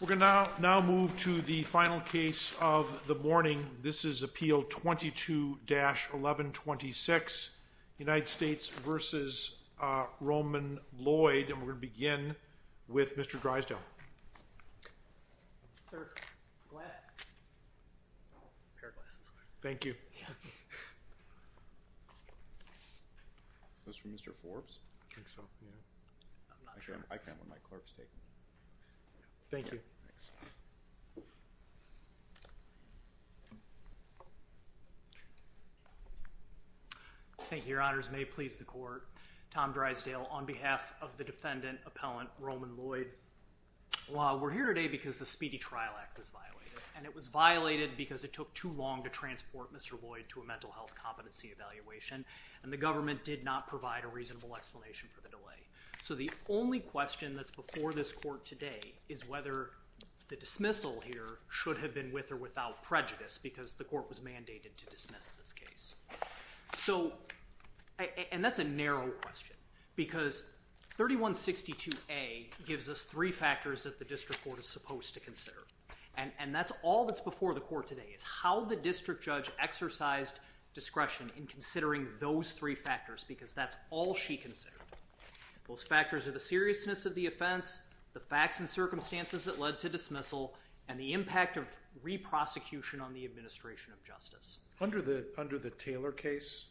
We're going to now move to the final case of the morning. This is Appeal 22-1126, United States v. Roman Lloyd, and we're going to begin with Mr. Drysdale. Sir, go ahead. Thank you. Is this from Mr. Forbes? I think so. I can't let my clerks take it. Thank you. Thank you, Your Honors. May it please the Court, Tom Drysdale on behalf of the defendant, Appellant Roman Lloyd. We're here today because the Speedy Trial Act was violated, and it was violated because it took too long to transport Mr. Lloyd to a mental health competency evaluation, and the government did not provide a reasonable explanation for the delay. So the only question that's before this Court today is whether the dismissal here should have been with or without prejudice because the Court was mandated to dismiss this case. And that's a narrow question because 3162A gives us three factors that the District Court is supposed to consider, and that's all that's before the Court today is how the District Judge exercised discretion in considering those three factors because that's all she considered. Those factors are the seriousness of the offense, the facts and circumstances that led to dismissal, and the impact of re-prosecution on the administration of justice. Under the Taylor case,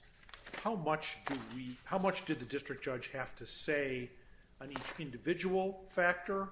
how much did the District Judge have to say on each individual factor,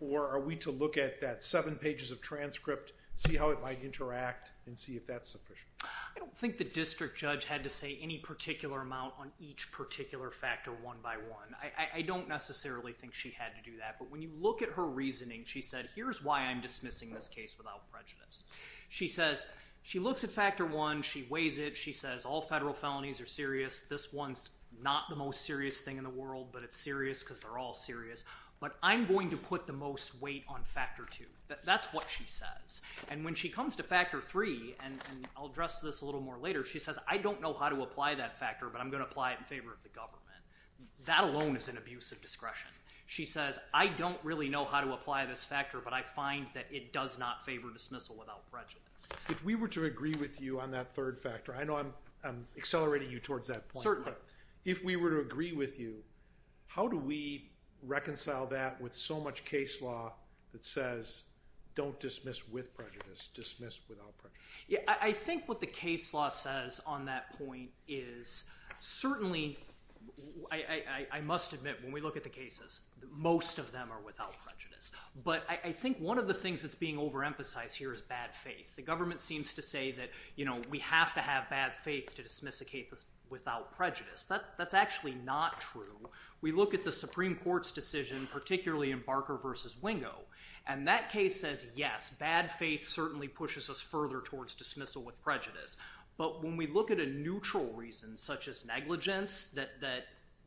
or are we to look at that seven pages of transcript, see how it might interact, and see if that's sufficient? I don't think the District Judge had to say any particular amount on each particular factor one by one. I don't necessarily think she had to do that, but when you look at her reasoning, she said, here's why I'm dismissing this case without prejudice. She says, she looks at factor one, she weighs it, she says all federal felonies are serious, this one's not the most serious thing in the world, but it's serious because they're all serious, but I'm going to put the most weight on factor two. That's what she says, and when she comes to factor three, and I'll address this a little more later, she says, I don't know how to apply that factor, but I'm going to apply it in favor of the government. That alone is an abuse of discretion. She says, I don't really know how to apply this factor, but I find that it does not favor dismissal without prejudice. If we were to agree with you on that third factor, I know I'm accelerating you towards that point, but if we were to agree with you, how do we reconcile that with so much case law that says, don't dismiss with prejudice, dismiss without prejudice? I think what the case law says on that point is certainly, I must admit, when we look at the cases, most of them are without prejudice, but I think one of the things that's being overemphasized here is bad faith. The government seems to say that we have to have bad faith to dismiss a case without prejudice. That's actually not true. We look at the Supreme Court's decision, particularly in Barker v. Wingo, and that case says, yes, bad faith certainly pushes us further towards dismissal with prejudice, but when we look at a neutral reason such as negligence,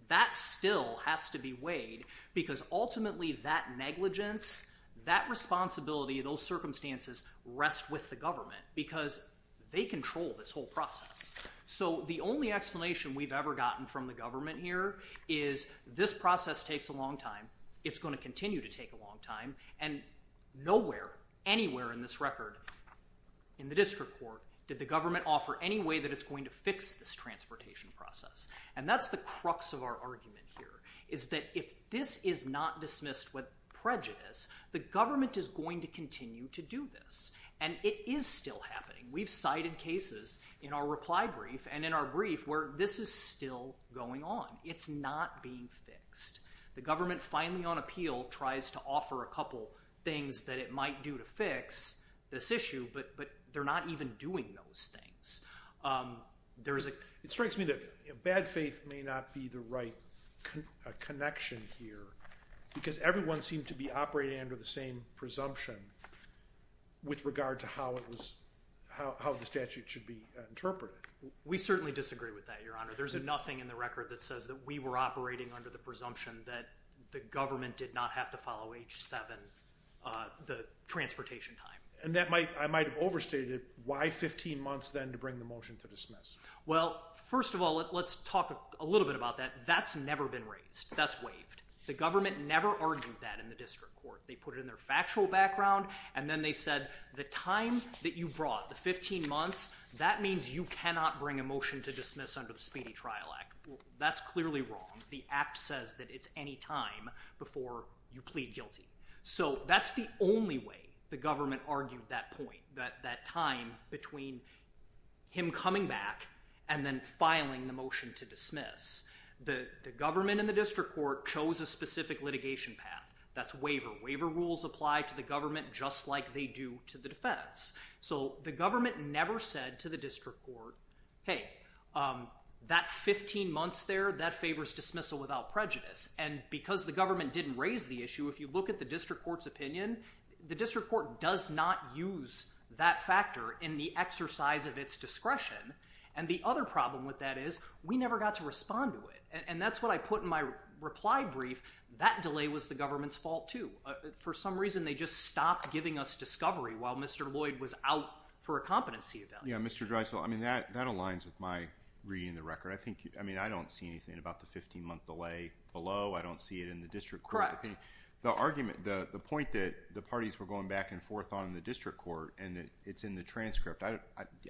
that still has to be weighed because ultimately that negligence, that responsibility, those circumstances rest with the government. Because they control this whole process. So the only explanation we've ever gotten from the government here is this process takes a long time, it's going to continue to take a long time, and nowhere, anywhere in this record, in the district court, did the government offer any way that it's going to fix this transportation process. And that's the crux of our argument here, is that if this is not dismissed with prejudice, the government is going to continue to do this. And it is still happening. We've cited cases in our reply brief and in our brief where this is still going on. It's not being fixed. The government finally on appeal tries to offer a couple things that it might do to fix this issue, but they're not even doing those things. It strikes me that bad faith may not be the right connection here because everyone seemed to be operating under the same presumption with regard to how the statute should be interpreted. We certainly disagree with that, Your Honor. There's nothing in the record that says that we were operating under the presumption that the government did not have to follow H-7, the transportation time. And I might have overstated it. Why 15 months then to bring the motion to dismiss? Well, first of all, let's talk a little bit about that. That's never been raised. That's waived. The government never argued that in the district court. They put it in their factual background, and then they said the time that you brought, the 15 months, that means you cannot bring a motion to dismiss under the Speedy Trial Act. That's clearly wrong. The Act says that it's any time before you plead guilty. So that's the only way the government argued that point, that time between him coming back and then filing the motion to dismiss. The government and the district court chose a specific litigation path. That's waiver. Waiver rules apply to the government just like they do to the defense. So the government never said to the district court, hey, that 15 months there, that favors dismissal without prejudice. And because the government didn't raise the issue, if you look at the district court's opinion, the district court does not use that factor in the exercise of its discretion. And the other problem with that is we never got to respond to it. And that's what I put in my reply brief. That delay was the government's fault, too. For some reason, they just stopped giving us discovery while Mr. Lloyd was out for a competency event. Yeah, Mr. Dreisel, I mean, that aligns with my reading the record. I mean, I don't see anything about the 15-month delay below. I don't see it in the district court opinion. The argument, the point that the parties were going back and forth on the district court, and it's in the transcript. I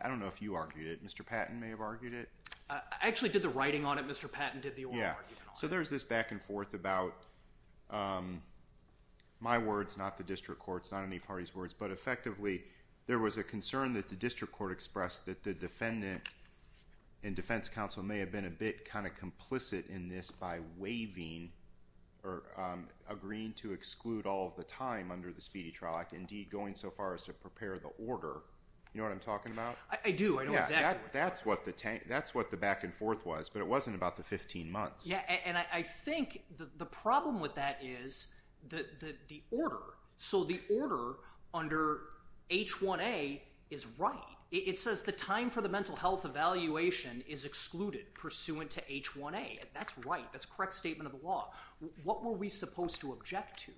don't know if you argued it. Mr. Patton may have argued it. I actually did the writing on it. Mr. Patton did the oral argument on it. Yeah, so there's this back and forth about my words, not the district court's, not any party's words. But effectively, there was a concern that the district court expressed that the defendant and defense counsel may have been a bit kind of complicit in this by waiving or agreeing to exclude all of the time under the speedy trial act, indeed going so far as to prepare the order. You know what I'm talking about? I do. I know exactly what you're talking about. Yeah, that's what the back and forth was. But it wasn't about the 15 months. Yeah, and I think the problem with that is the order. So the order under H1A is right. It says the time for the mental health evaluation is excluded pursuant to H1A. That's right. That's a correct statement of the law. What were we supposed to object to?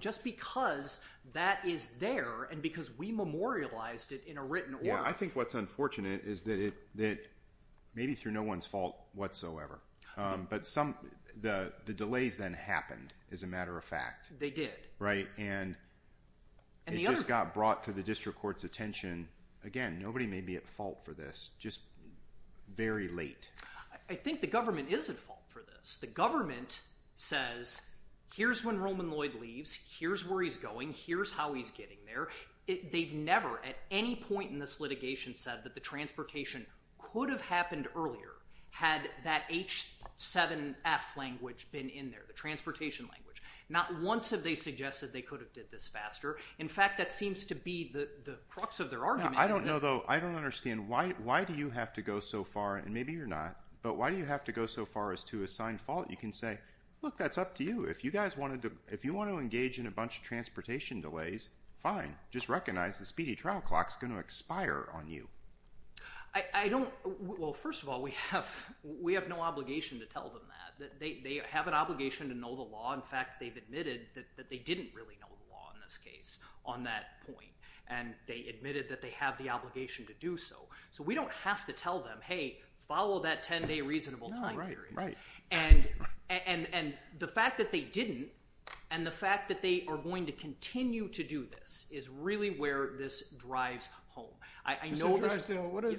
Just because that is there and because we memorialized it in a written order. Yeah, I think what's unfortunate is that maybe through no one's fault whatsoever, but the delays then happened, as a matter of fact. They did. Right, and it just got brought to the district court's attention. Again, nobody may be at fault for this, just very late. I think the government is at fault for this. The government says, here's when Roman Lloyd leaves. Here's where he's going. Here's how he's getting there. They've never at any point in this litigation said that the transportation could have happened earlier had that H7F language been in there, the transportation language. Not once have they suggested they could have did this faster. In fact, that seems to be the crux of their argument. I don't know, though. I don't understand. Why do you have to go so far, and maybe you're not, but why do you have to go so far as to assign fault? You can say, look, that's up to you. If you want to engage in a bunch of transportation delays, fine. Just recognize the speedy trial clock is going to expire on you. Well, first of all, we have no obligation to tell them that. They have an obligation to know the law. In fact, they've admitted that they didn't really know the law in this case on that point, and they admitted that they have the obligation to do so. So we don't have to tell them, hey, follow that 10-day reasonable time period. And the fact that they didn't and the fact that they are going to continue to do this is really where this drives home. Mr. Drysdale,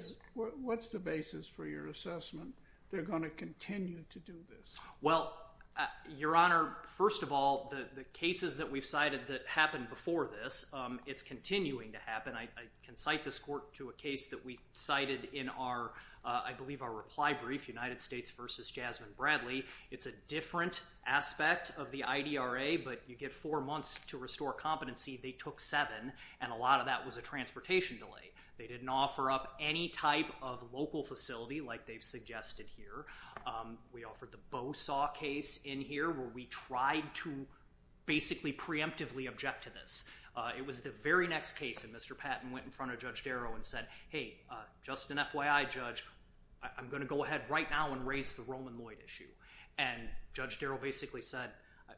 what's the basis for your assessment they're going to continue to do this? Well, Your Honor, first of all, the cases that we've cited that happened before this, it's continuing to happen. I can cite this court to a case that we cited in our, I believe, our reply brief, United States v. Jasmine Bradley. It's a different aspect of the IDRA, but you get four months to restore competency. They took seven, and a lot of that was a transportation delay. They didn't offer up any type of local facility like they've suggested here. We offered the Bosaw case in here where we tried to basically preemptively object to this. It was the very next case that Mr. Patton went in front of Judge Darrow and said, hey, just an FYI, Judge, I'm going to go ahead right now and raise the Roman Lloyd issue. And Judge Darrow basically said,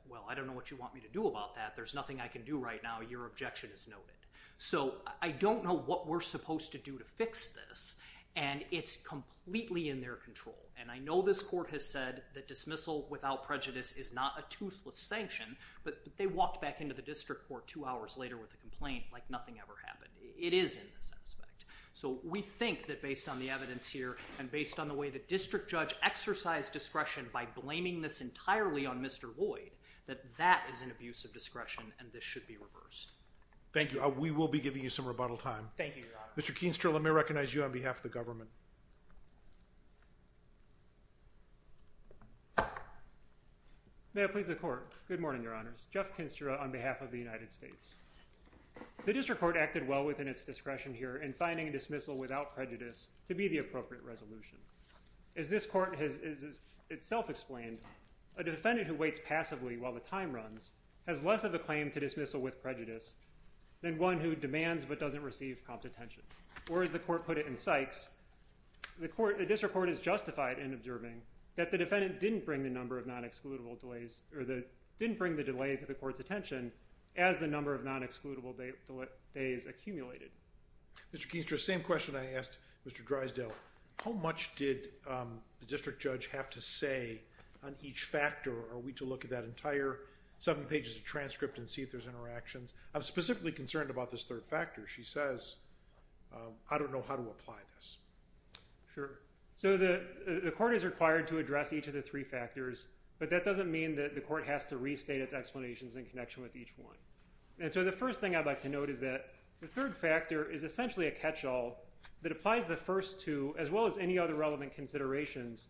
well, I don't know what you want me to do about that. There's nothing I can do right now. Your objection is noted. So I don't know what we're supposed to do to fix this, and it's completely in their control. And I know this court has said that dismissal without prejudice is not a toothless sanction, but they walked back into the district court two hours later with a complaint like nothing ever happened. It is in this aspect. So we think that based on the evidence here and based on the way the district judge exercised discretion by blaming this entirely on Mr. Lloyd, that that is an abuse of discretion and this should be reversed. Thank you. We will be giving you some rebuttal time. Thank you, Your Honor. Mr. Keenster, let me recognize you on behalf of the government. May it please the court. Good morning, Your Honors. Jeff Keenster on behalf of the United States. The district court acted well within its discretion here in finding a dismissal without prejudice to be the appropriate resolution. As this court has itself explained, a defendant who waits passively while the time runs has less of a claim to dismissal with prejudice than one who demands but doesn't receive prompt attention. Or as the court put it in Sykes, the district court is justified in observing that the defendant didn't bring the number of non-excludable delays or didn't bring the delay to the court's attention as the number of non-excludable days accumulated. Mr. Keenster, same question I asked Mr. Drysdale. How much did the district judge have to say on each factor? Are we to look at that entire seven pages of transcript and see if there's interactions? I'm specifically concerned about this third factor. She says, I don't know how to apply this. Sure. So the court is required to address each of the three factors. But that doesn't mean that the court has to restate its explanations in connection with each one. And so the first thing I'd like to note is that the third factor is essentially a catch-all that applies the first two, as well as any other relevant considerations,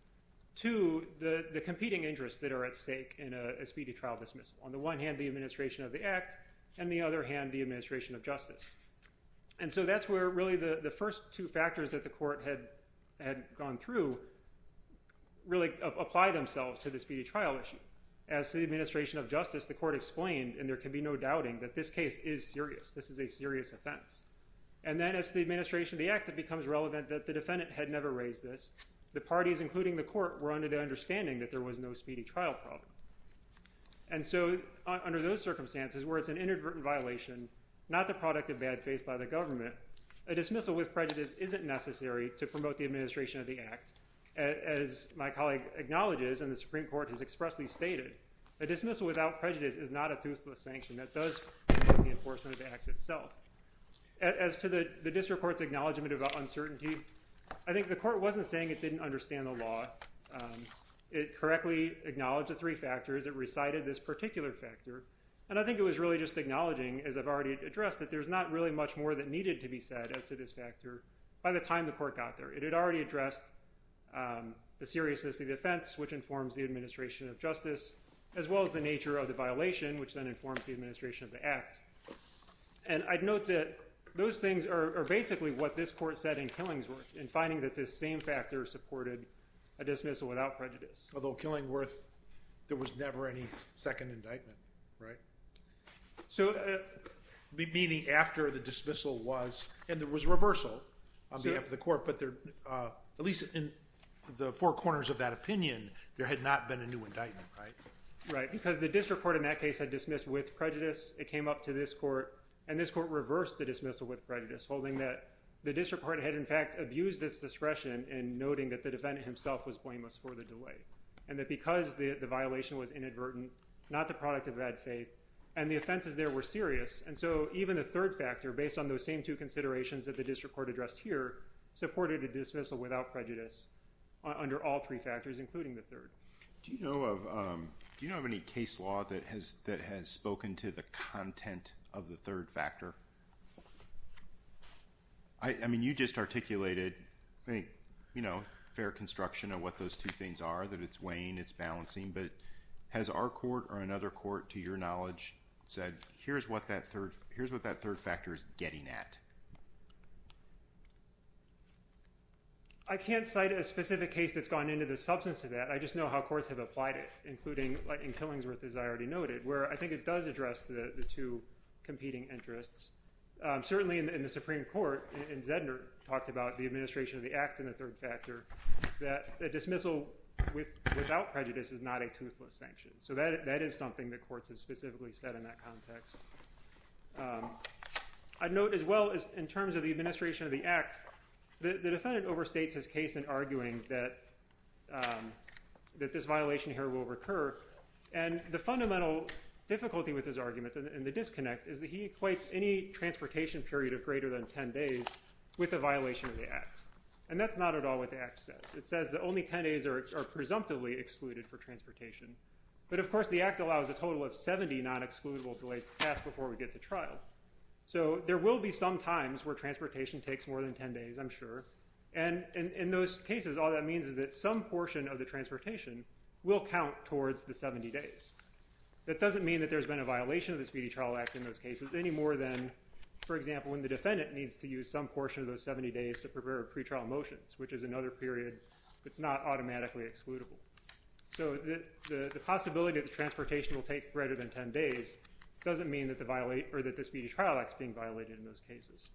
to the competing interests that are at stake in a speedy trial dismissal. On the one hand, the administration of the act, and the other hand, the administration of justice. And so that's where really the first two factors that the court had gone through really apply themselves to the speedy trial issue. As to the administration of justice, the court explained, and there can be no doubting, that this case is serious. This is a serious offense. And then as to the administration of the act, it becomes relevant that the defendant had never raised this. The parties, including the court, were under the understanding that there was no speedy trial problem. And so under those circumstances, where it's an inadvertent violation, not the product of bad faith by the government, a dismissal with prejudice isn't necessary to promote the administration of the act. As my colleague acknowledges, and the Supreme Court has expressly stated, a dismissal without prejudice is not a toothless sanction that does promote the enforcement of the act itself. As to the district court's acknowledgement of uncertainty, I think the court wasn't saying it didn't understand the law. It correctly acknowledged the three factors that recited this particular factor. And I think it was really just acknowledging, as I've already addressed, that there's not really much more that needed to be said as to this factor by the time the court got there. It had already addressed the seriousness of the offense, which informs the administration of justice, as well as the nature of the violation, which then informs the administration of the act. And I'd note that those things are basically what this court said in Killingsworth, in finding that this same factor supported a dismissal without prejudice. Although Killingsworth, there was never any second indictment, right? So meaning after the dismissal was, and there was reversal on behalf of the court, but at least in the four corners of that opinion, there had not been a new indictment, right? Right, because the district court in that case had dismissed with prejudice. It came up to this court, and this court reversed the dismissal with prejudice, holding that the district court had in fact abused its discretion in noting that the defendant himself was blameless for the delay, and that because the violation was inadvertent, not the product of bad faith, and the offenses there were serious. And so even the third factor, based on those same two considerations that the district court addressed here, supported a dismissal without prejudice under all three factors, including the third. Do you know of any case law that has spoken to the content of the third factor? I mean, you just articulated, you know, fair construction of what those two things are, that it's weighing, it's balancing, but has our court or another court, to your knowledge, said here's what that third factor is getting at? I can't cite a specific case that's gone into the substance of that. I just know how courts have applied it, including in Killingsworth, as I already noted, where I think it does address the two competing interests. Certainly in the Supreme Court, and Zedner talked about the administration of the act in the third factor, that a dismissal without prejudice is not a toothless sanction. So that is something that courts have specifically said in that context. I'd note as well, in terms of the administration of the act, the defendant overstates his case in arguing that this violation here will recur, and the fundamental difficulty with his argument, and the disconnect, is that he equates any transportation period of greater than 10 days with a violation of the act, and that's not at all what the act says. It says that only 10 days are presumptively excluded for transportation, but of course the act allows a total of 70 non-excludable delays to pass before we get to trial. So there will be some times where transportation takes more than 10 days, I'm sure, and in those cases all that means is that some portion of the transportation will count towards the 70 days. That doesn't mean that there's been a violation of the Speedy Trial Act in those cases, any more than, for example, when the defendant needs to use some portion of those 70 days to prepare pretrial motions, which is another period that's not automatically excludable. So the possibility that the transportation will take greater than 10 days doesn't mean that the Speedy Trial Act is being violated in those cases.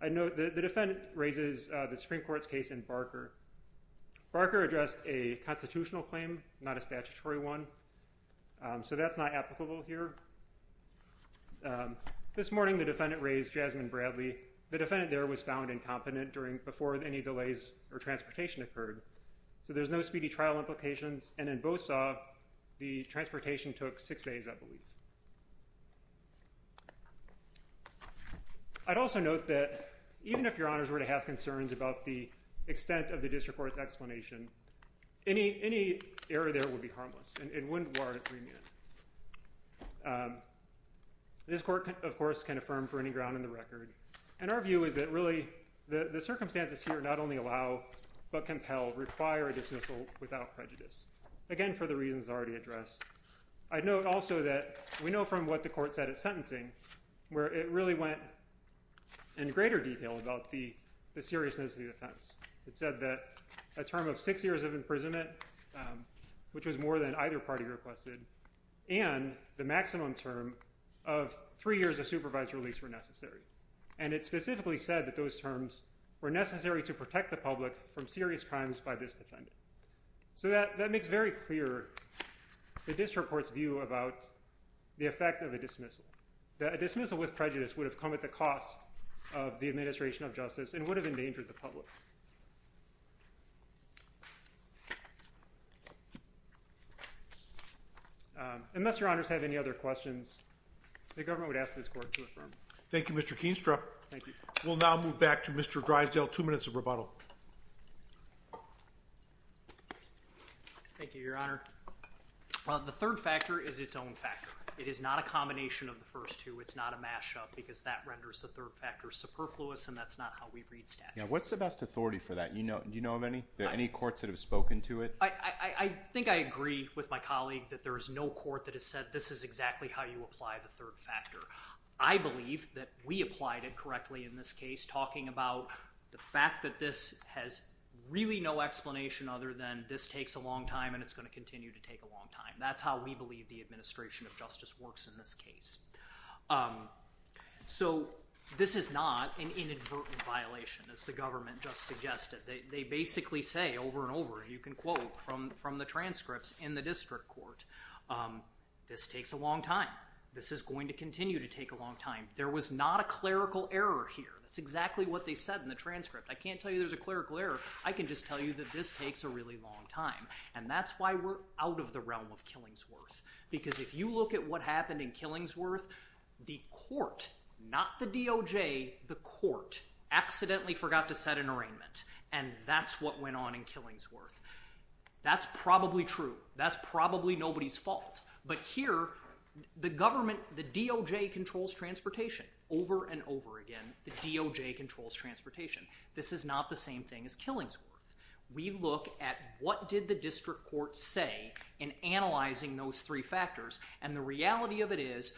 I'd note that the defendant raises the Supreme Court's case in Barker. Barker addressed a constitutional claim, not a statutory one, so that's not applicable here. This morning the defendant raised Jasmine Bradley. The defendant there was found incompetent before any delays or transportation occurred, so there's no speedy trial implications, and in Bosaw the transportation took six days, I believe. I'd also note that even if your honors were to have concerns about the extent of the district court's explanation, any error there would be harmless and wouldn't warrant a three-minute. This court, of course, can affirm for any ground in the record, and our view is that really the circumstances here not only allow but compel, require a dismissal without prejudice, again, for the reasons already addressed. I'd note also that we know from what the court said at sentencing it said that a term of six years of imprisonment, which was more than either party requested, and the maximum term of three years of supervised release were necessary, and it specifically said that those terms were necessary to protect the public from serious crimes by this defendant. So that makes very clear the district court's view about the effect of a dismissal, that a dismissal with prejudice would have come at the cost of the administration of justice and would have endangered the public. Unless your honors have any other questions, the government would ask this court to affirm. Thank you, Mr. Keenstra. We'll now move back to Mr. Drysdale, two minutes of rebuttal. Thank you, your honor. The third factor is its own factor. It is not a combination of the first two. It's not a mashup because that renders the third factor superfluous and that's not how we read statutes. What's the best authority for that? Do you know of any? Are there any courts that have spoken to it? I think I agree with my colleague that there is no court that has said this is exactly how you apply the third factor. I believe that we applied it correctly in this case, talking about the fact that this has really no explanation other than this takes a long time and it's going to continue to take a long time. That's how we believe the administration of justice works in this case. So this is not an inadvertent violation as the government just suggested. They basically say over and over, you can quote from the transcripts in the district court, this takes a long time. This is going to continue to take a long time. There was not a clerical error here. That's exactly what they said in the transcript. I can't tell you there's a clerical error. I can just tell you that this takes a really long time and that's why we're out of the realm of Killingsworth because if you look at what happened in Killingsworth, the court, not the DOJ, the court accidentally forgot to set an arraignment and that's what went on in Killingsworth. That's probably true. That's probably nobody's fault. But here, the government, the DOJ controls transportation. Over and over again, the DOJ controls transportation. This is not the same thing as Killingsworth. We look at what did the district court say in analyzing those three factors and the reality of it is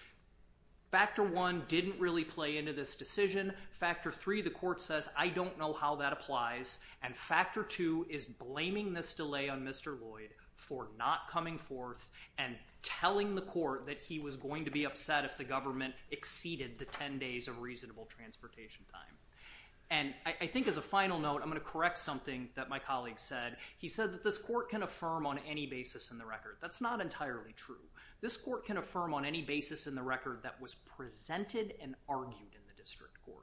factor one didn't really play into this decision. Factor three, the court says I don't know how that applies and factor two is blaming this delay on Mr. Lloyd for not coming forth and telling the court that he was going to be upset if the government exceeded the 10 days of reasonable transportation time. I think as a final note, I'm going to correct something that my colleague said. He said that this court can affirm on any basis in the record. That's not entirely true. This court can affirm on any basis in the record that was presented and argued in the district court.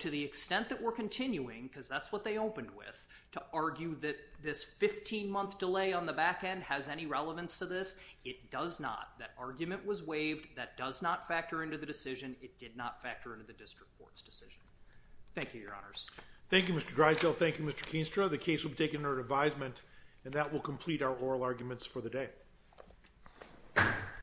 To the extent that we're continuing because that's what they opened with to argue that this 15-month delay on the back end has any relevance to this, it does not. That argument was waived. That does not factor into the decision. It did not factor into the district court's decision. Thank you, Your Honors. Thank you, Mr. Drysdale. Thank you, Mr. Keenstra. The case will be taken under advisement and that will complete our oral arguments for the day.